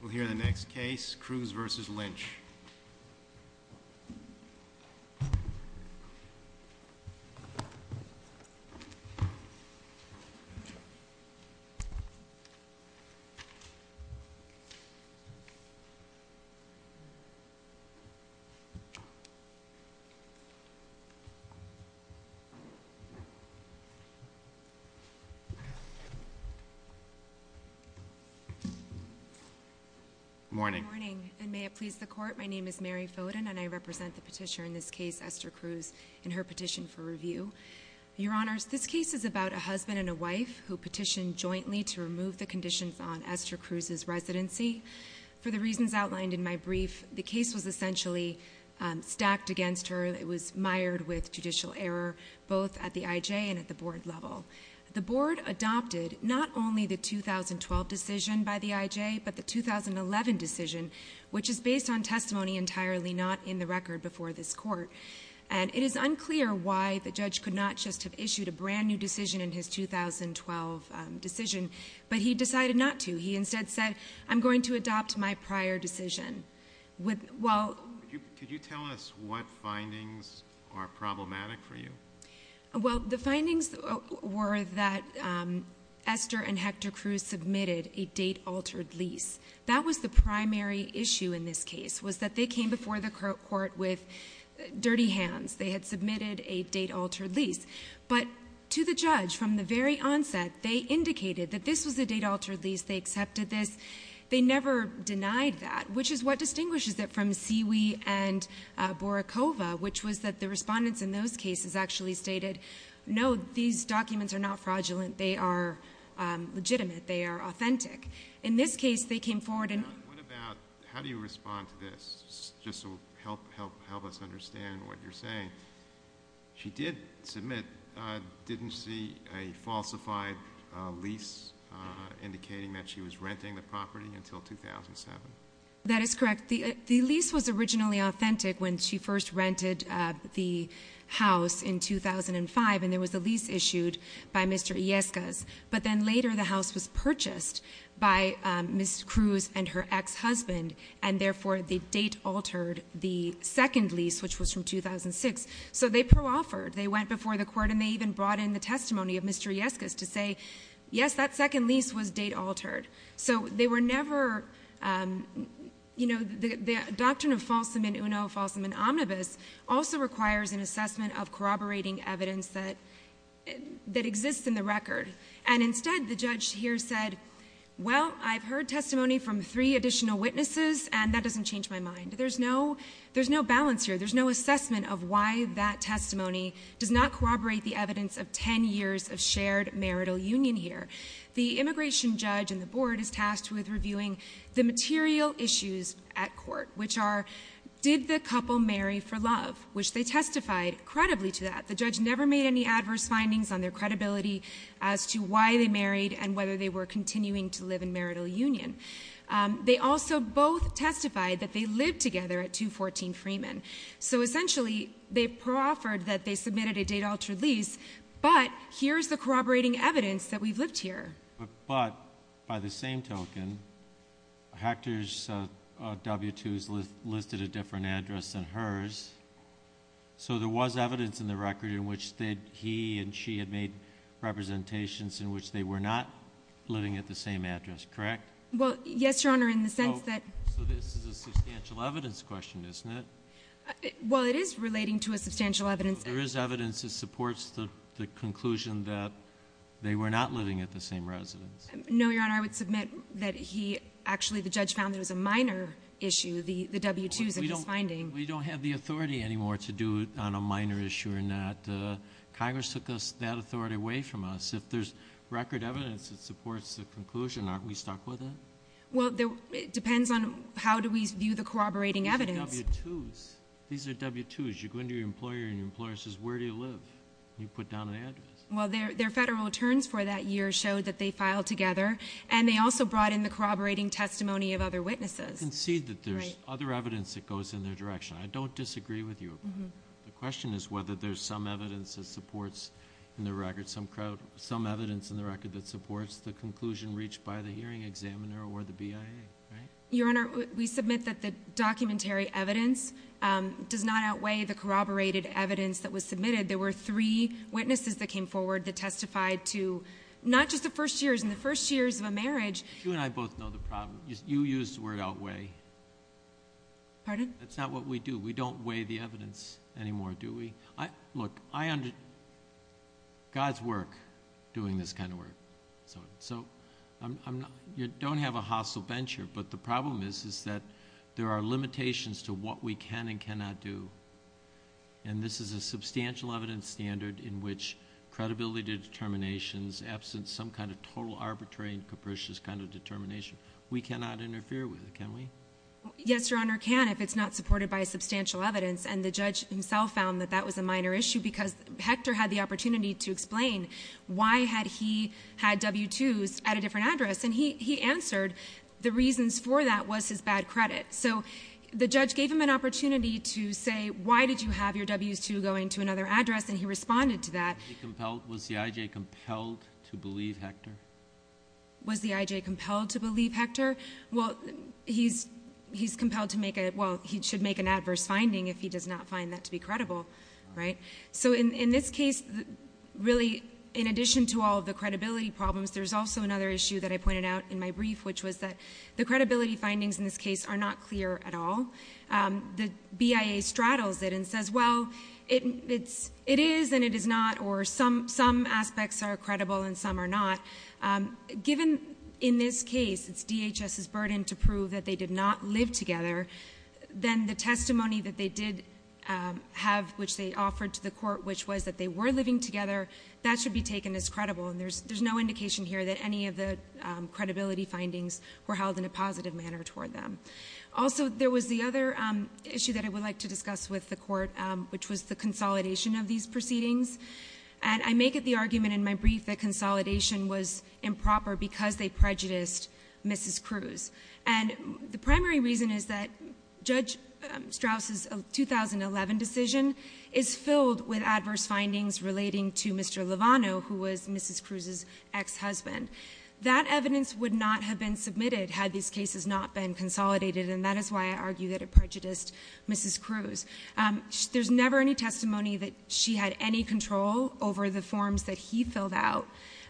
We'll hear the next case, Cruz v. Lynch. Good morning. Good morning. And may it please the Court, my name is Mary Foden and I represent the petitioner in this case, Esther Cruz, in her petition for review. Your Honors, this case is about a husband and a wife who petitioned jointly to remove the conditions on Esther Cruz's residency. For the reasons outlined in my brief, the case was essentially stacked against her. It was mired with judicial error, both at the I.J. and at the Board level. The Board adopted not only the 2012 decision by the I.J., but the 2011 decision, which is based on testimony entirely not in the record before this Court. And it is unclear why the judge could not just have issued a brand-new decision in his 2012 decision, but he decided not to. He instead said, I'm going to adopt my prior decision. Could you tell us what findings are problematic for you? Well, the findings were that Esther and Hector Cruz submitted a date-altered lease. That was the primary issue in this case, was that they came before the Court with dirty hands. They had submitted a date-altered lease. But to the judge, from the very onset, they indicated that this was a date-altered lease, they accepted this. They never denied that, which is what distinguishes it from Siwi and Borracova, which was that the respondents in those cases actually stated, no, these documents are not fraudulent. They are legitimate. They are authentic. In this case, they came forward and— What about—how do you respond to this, just to help us understand what you're saying? She did submit—didn't see a falsified lease indicating that she was renting the property until 2007. That is correct. The lease was originally authentic when she first rented the house in 2005, and there was a lease issued by Mr. Iescas. But then later, the house was purchased by Ms. Cruz and her ex-husband, and therefore, the date altered the second lease, which was from 2006. So they pro-offered. They went before the Court, and they even brought in the testimony of Mr. Iescas to say, yes, that second lease was date-altered. So they were never—you know, the doctrine of falsam in uno, falsam in omnibus, also requires an assessment of corroborating evidence that exists in the record. And instead, the judge here said, well, I've heard testimony from three additional witnesses, and that doesn't change my mind. There's no balance here. There's no assessment of why that testimony does not corroborate the evidence of 10 years of shared marital union here. The immigration judge and the board is tasked with reviewing the material issues at court, which are, did the couple marry for love, which they testified credibly to that. The judge never made any adverse findings on their credibility as to why they married and whether they were continuing to live in marital union. They also both testified that they lived together at 214 Freeman. So essentially, they pro-offered that they submitted a date-altered lease, but here's the corroborating evidence that we've lived here. But by the same token, Hector's W-2s listed a different address than hers, so there was evidence in the record in which he and she had made representations in which they were not living at the same address, correct? Well, yes, Your Honor, in the sense that- So this is a substantial evidence question, isn't it? Well, it is relating to a substantial evidence- There is evidence that supports the conclusion that they were not living at the same residence. No, Your Honor, I would submit that he actually, the judge found there was a minor issue, the W-2s in his finding. We don't have the authority anymore to do it on a minor issue or not. Congress took that authority away from us. If there's record evidence that supports the conclusion, aren't we stuck with it? Well, it depends on how do we view the corroborating evidence. These are W-2s. These are W-2s. You go into your employer and your employer says, where do you live? You put down an address. Well, their federal returns for that year showed that they filed together, and they also brought in the corroborating testimony of other witnesses. I concede that there's other evidence that goes in their direction. I don't disagree with you. The question is whether there's some evidence that supports in the record, some evidence in the record that supports the conclusion reached by the hearing examiner or the BIA, right? Your Honor, we submit that the documentary evidence does not outweigh the corroborated evidence that was submitted. There were three witnesses that came forward that testified to not just the first years and the first years of a marriage. You and I both know the problem. You used the word outweigh. Pardon? That's not what we do. We don't weigh the evidence anymore, do we? Look, God's work doing this kind of work. So you don't have a hostile venture, but the problem is that there are limitations to what we can and cannot do, and this is a substantial evidence standard in which credibility determinations, absent some kind of total arbitrary and capricious kind of determination, we cannot interfere with it, can we? Yes, Your Honor, can if it's not supported by substantial evidence, and the judge himself found that that was a minor issue because Hector had the opportunity to explain why had he had W-2s at a different address, and he answered the reasons for that was his bad credit. So the judge gave him an opportunity to say why did you have your W-2s going to another address, and he responded to that. Was the I.J. compelled to believe Hector? Was the I.J. compelled to believe Hector? Well, he should make an adverse finding if he does not find that to be credible, right? So in this case, really, in addition to all of the credibility problems, there's also another issue that I pointed out in my brief, which was that the credibility findings in this case are not clear at all. The BIA straddles it and says, well, it is and it is not, or some aspects are credible and some are not. Given, in this case, it's DHS's burden to prove that they did not live together, then the testimony that they did have, which they offered to the court, which was that they were living together, that should be taken as credible, and there's no indication here that any of the credibility findings were held in a positive manner toward them. Also, there was the other issue that I would like to discuss with the court, which was the consolidation of these proceedings. And I make it the argument in my brief that consolidation was improper because they prejudiced Mrs. Cruz. And the primary reason is that Judge Strauss's 2011 decision is filled with adverse findings relating to Mr. Lovano, who was Mrs. Cruz's ex-husband. That evidence would not have been submitted had these cases not been consolidated, and that is why I argue that it prejudiced Mrs. Cruz. There's never any testimony that she had any control over the forms that he filled out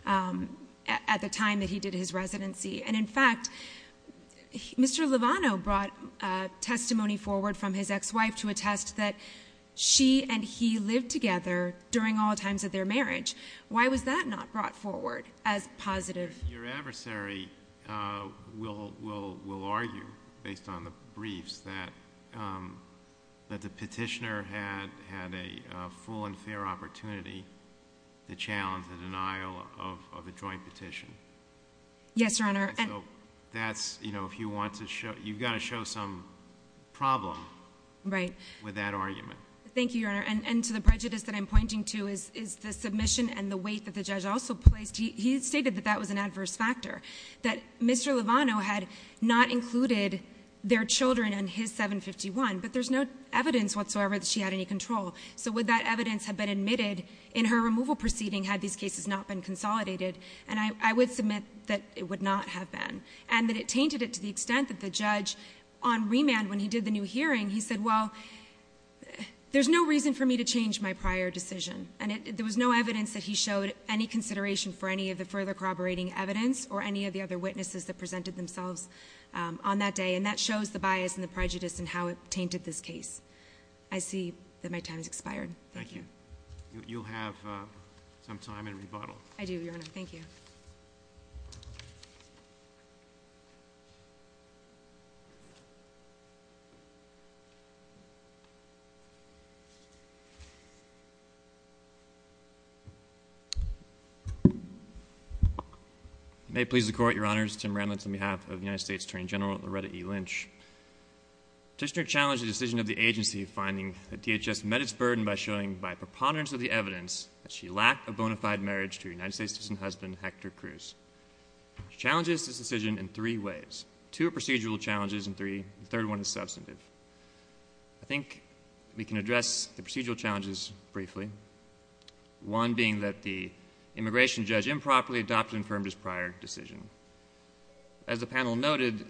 at the time that he did his residency. And, in fact, Mr. Lovano brought testimony forward from his ex-wife to attest that she and he lived together during all times of their marriage. Why was that not brought forward as positive? Your adversary will argue, based on the briefs, that the petitioner had a full and fair opportunity to challenge the denial of a joint petition. Yes, Your Honor. And so that's, you know, if you want to show, you've got to show some problem with that argument. Thank you, Your Honor. And to the prejudice that I'm pointing to is the submission and the weight that the judge also placed. He stated that that was an adverse factor, that Mr. Lovano had not included their children in his 751, but there's no evidence whatsoever that she had any control. So would that evidence have been admitted in her removal proceeding had these cases not been consolidated? And I would submit that it would not have been, and that it tainted it to the extent that the judge, on remand when he did the new hearing, he said, well, there's no reason for me to change my prior decision. And there was no evidence that he showed any consideration for any of the further corroborating evidence or any of the other witnesses that presented themselves on that day, and that shows the bias and the prejudice and how it tainted this case. I see that my time has expired. Thank you. You'll have some time in rebuttal. I do, Your Honor. Thank you. Thank you. May it please the Court, Your Honors, Tim Randlitz on behalf of the United States Attorney General Loretta E. Lynch. The petitioner challenged the decision of the agency finding that DHS met its burden by showing, by preponderance of the evidence, that she lacked a bona fide marriage to her United States citizen husband, Hector Cruz. She challenges this decision in three ways. Two are procedural challenges, and three, the third one is substantive. I think we can address the procedural challenges briefly, one being that the immigration judge improperly adopted and affirmed his prior decision. As the panel noted,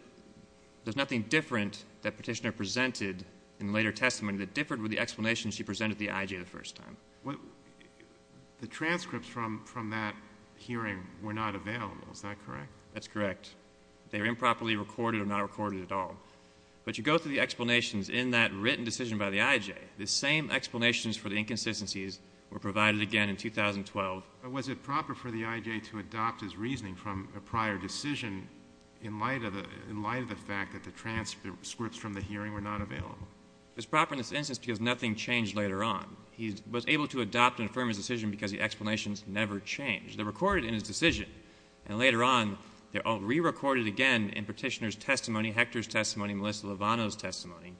there's nothing different that petitioner presented in the later testimony that differed with the explanation she presented at the IG the first time. The transcripts from that hearing were not available, is that correct? That's correct. They were improperly recorded or not recorded at all. But you go through the explanations in that written decision by the IJ, the same explanations for the inconsistencies were provided again in 2012. Was it proper for the IJ to adopt his reasoning from a prior decision in light of the fact that the transcripts from the hearing were not available? It was proper in this instance because nothing changed later on. He was able to adopt and affirm his decision because the explanations never changed. They're recorded in his decision, and later on, they're all rerecorded again in petitioner's testimony, Hector's testimony, Melissa Lovano's testimony.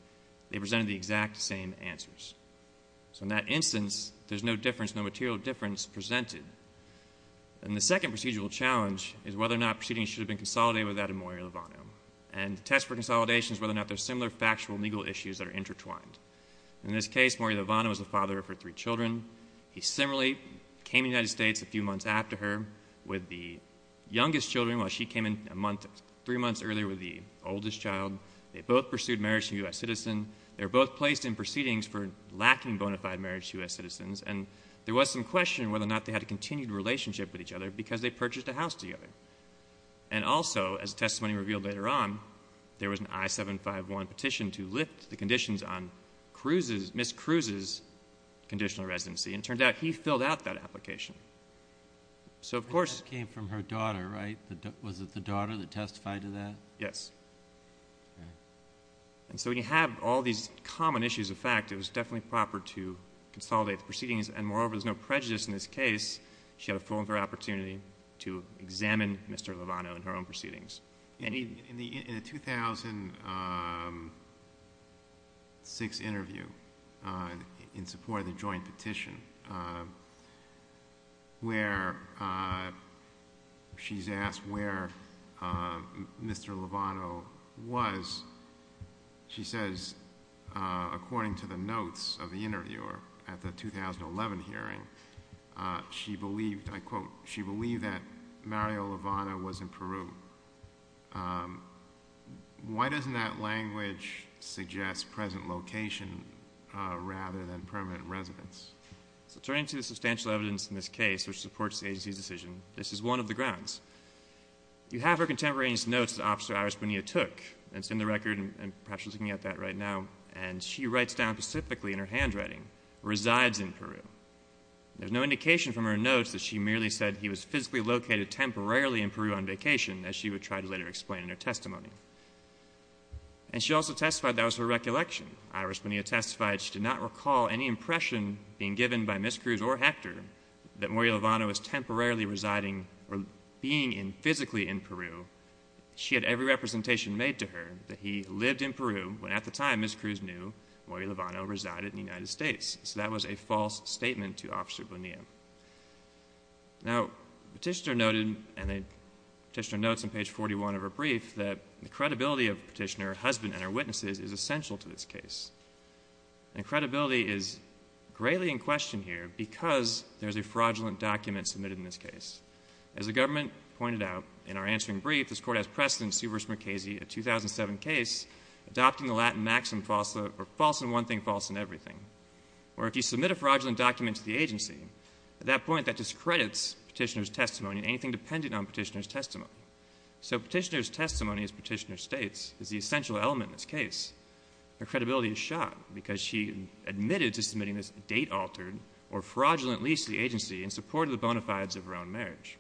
They presented the exact same answers. So in that instance, there's no difference, no material difference presented. And the second procedural challenge is whether or not proceedings should have been consolidated without a Maury Lovano. And the test for consolidation is whether or not there's similar factual legal issues that are intertwined. In this case, Maury Lovano is the father of her three children. He similarly came to the United States a few months after her with the youngest children while she came in three months earlier with the oldest child. They both pursued marriage to a U.S. citizen. They were both placed in proceedings for lacking bona fide marriage to U.S. citizens, and there was some question whether or not they had a continued relationship with each other because they purchased a house together. And also, as testimony revealed later on, there was an I-751 petition to lift the conditions on Ms. Cruz's conditional residency, and it turned out he filled out that application. And that came from her daughter, right? Was it the daughter that testified to that? Yes. And so when you have all these common issues of fact, it was definitely proper to consolidate the proceedings. And moreover, there's no prejudice in this case. She had a full and fair opportunity to examine Mr. Lovano in her own proceedings. In a 2006 interview in support of the joint petition where she's asked where Mr. Lovano was, she says, according to the notes of the interviewer at the 2011 hearing, she believed, I quote, she believed that Mario Lovano was in Peru. Why doesn't that language suggest present location rather than permanent residence? So turning to the substantial evidence in this case, which supports the agency's decision, this is one of the grounds. You have her contemporaneous notes that Officer Iris Bonilla took, and it's in the record, and perhaps you're looking at that right now, and she writes down specifically in her handwriting, resides in Peru. There's no indication from her notes that she merely said he was physically located temporarily in Peru on vacation, as she would try to later explain in her testimony. And she also testified that was her recollection. Iris Bonilla testified she did not recall any impression being given by Ms. Cruz or Hector that Mario Lovano was temporarily residing or being physically in Peru. She had every representation made to her that he lived in Peru when at the time Ms. Cruz knew Mario Lovano resided in the United States. So that was a false statement to Officer Bonilla. Now, Petitioner noted, and Petitioner notes on page 41 of her brief, that the credibility of Petitioner, her husband, and her witnesses is essential to this case. And credibility is greatly in question here because there's a fraudulent document submitted in this case. As the government pointed out in our answering brief, this Court has precedent in Sievers-McCasey, a 2007 case, adopting the Latin maxim false in one thing, false in everything. Or if you submit a fraudulent document to the agency, at that point that discredits Petitioner's testimony and anything dependent on Petitioner's testimony. So Petitioner's testimony, as Petitioner states, is the essential element in this case. Her credibility is shot because she admitted to submitting this date-altered or fraudulent lease to the agency in support of the bona fides of her own marriage.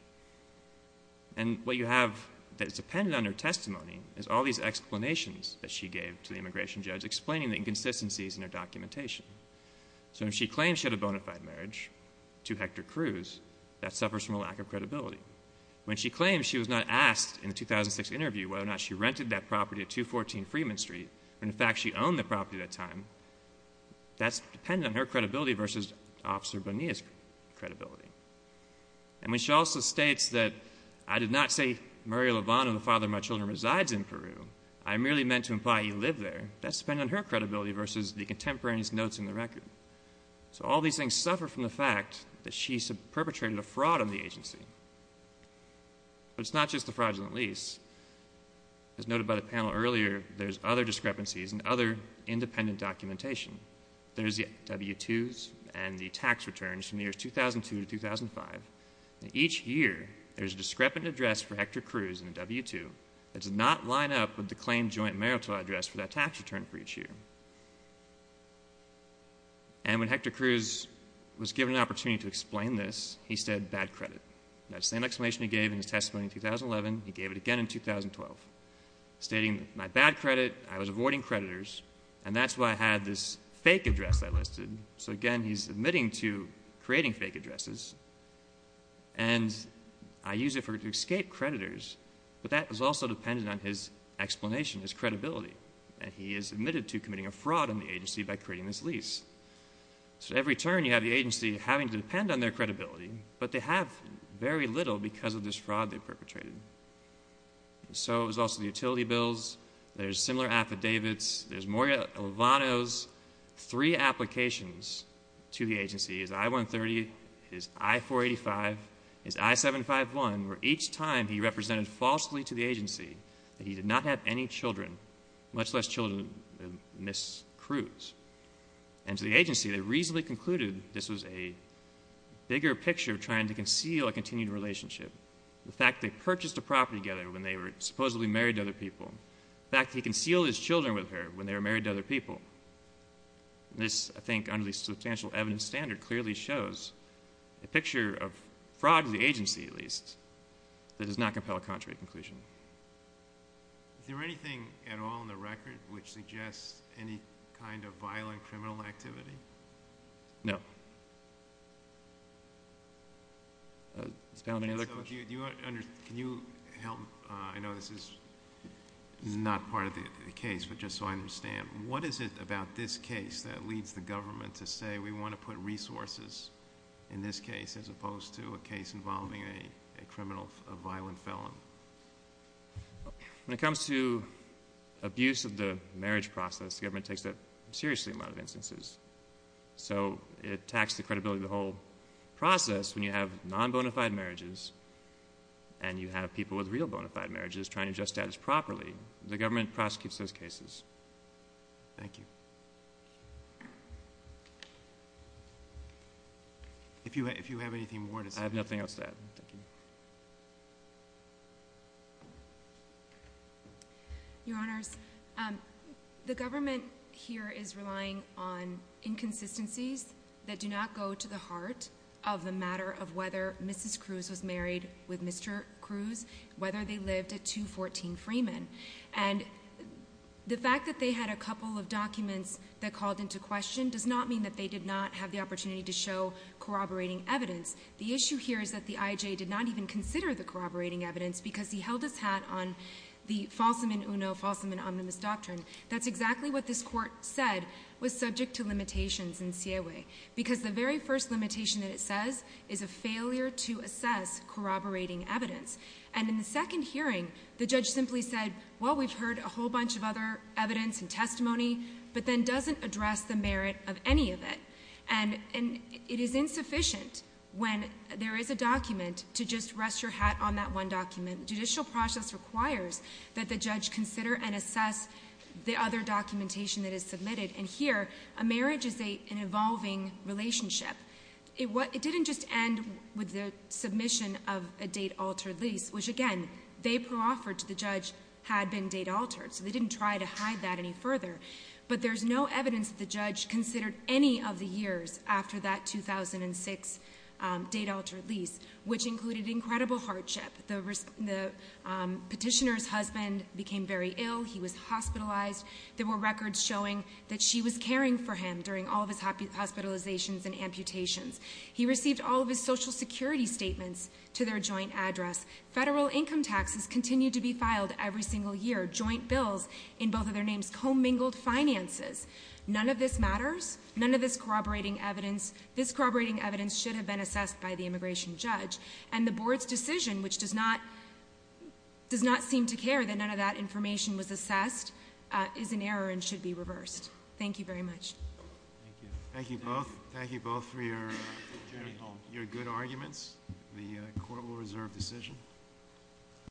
And what you have that is dependent on her testimony is all these explanations that she gave to the immigration judge explaining the inconsistencies in her documentation. So if she claims she had a bona fide marriage to Hector Cruz, that suffers from a lack of credibility. When she claims she was not asked in the 2006 interview whether or not she rented that property at 214 Freeman Street, when in fact she owned the property at that time, that's dependent on her credibility versus Officer Bonilla's credibility. And when she also states that, I did not say Maria Lovano, the father of my children, resides in Peru, I merely meant to imply he lived there, that's dependent on her credibility versus the contemporaneous notes in the record. So all these things suffer from the fact that she perpetrated a fraud on the agency. But it's not just the fraudulent lease. As noted by the panel earlier, there's other discrepancies and other independent documentation. There's the W-2s and the tax returns from the years 2002 to 2005. Each year, there's a discrepant address for Hector Cruz in the W-2 that does not line up with the claimed joint marital address for that tax return for each year. And when Hector Cruz was given an opportunity to explain this, he said, bad credit. That same explanation he gave in his testimony in 2011, he gave it again in 2012, stating, my bad credit, I was avoiding creditors, and that's why I had this fake address I listed. So again, he's admitting to creating fake addresses, and I use it to escape creditors, but that is also dependent on his explanation, his credibility, and he is admitted to committing a fraud on the agency by creating this lease. So every turn, you have the agency having to depend on their credibility, but they have very little because of this fraud they perpetrated. So there's also the utility bills, there's similar affidavits, there's Morgan Lovano's three applications to the agency, his I-130, his I-485, his I-751, where each time he represented falsely to the agency that he did not have any children, much less children than Ms. Cruz. And to the agency, they reasonably concluded this was a bigger picture of trying to conceal a continued relationship. The fact they purchased a property together when they were supposedly married to other people. The fact that he concealed his children with her when they were married to other people. This, I think, under the substantial evidence standard, clearly shows a picture of fraud to the agency, at least, that does not compel a contrary conclusion. Is there anything at all in the record which suggests any kind of violent criminal activity? No. Mr. Palin, any other questions? Can you help, I know this is not part of the case, but just so I understand, what is it about this case that leads the government to say we want to put resources in this case as opposed to a case involving a criminal, a violent felon? When it comes to abuse of the marriage process, the government takes that seriously in a lot of instances. So it attacks the credibility of the whole process when you have non-bona fide marriages and you have people with real bona fide marriages trying to adjust status properly. The government prosecutes those cases. Thank you. If you have anything more to say. I have nothing else to add. Your Honors, the government here is relying on inconsistencies that do not go to the heart of the matter of whether Mrs. Cruz was married with Mr. Cruz, whether they lived a 214 Freeman. And the fact that they had a couple of documents that called into question does not mean that they did not have the opportunity to show corroborating evidence. The issue here is that the I.J. did not even consider the corroborating evidence because he held his hat on the falsum in uno, falsum in omnibus doctrine. That's exactly what this Court said was subject to limitations in C.A.A.W. because the very first limitation that it says is a failure to assess corroborating evidence. And in the second hearing, the judge simply said, well, we've heard a whole bunch of other evidence and testimony, but then doesn't address the merit of any of it. And it is insufficient when there is a document to just rest your hat on that one document. Judicial process requires that the judge consider and assess the other documentation that is submitted. And here, a marriage is an evolving relationship. It didn't just end with the submission of a date-altered lease, which, again, they proffered to the judge had been date-altered, so they didn't try to hide that any further. But there's no evidence that the judge considered any of the years after that 2006 date-altered lease, which included incredible hardship. The petitioner's husband became very ill. He was hospitalized. There were records showing that she was caring for him during all of his hospitalizations and amputations. He received all of his Social Security statements to their joint address. Federal income taxes continued to be filed every single year, joint bills in both of their names, commingled finances. None of this matters. None of this corroborating evidence. This corroborating evidence should have been assessed by the immigration judge. And the board's decision, which does not seem to care that none of that information was assessed, is in error and should be reversed. Thank you very much. Thank you. Thank you both. Thank you both for your good arguments. The court will reserve decision.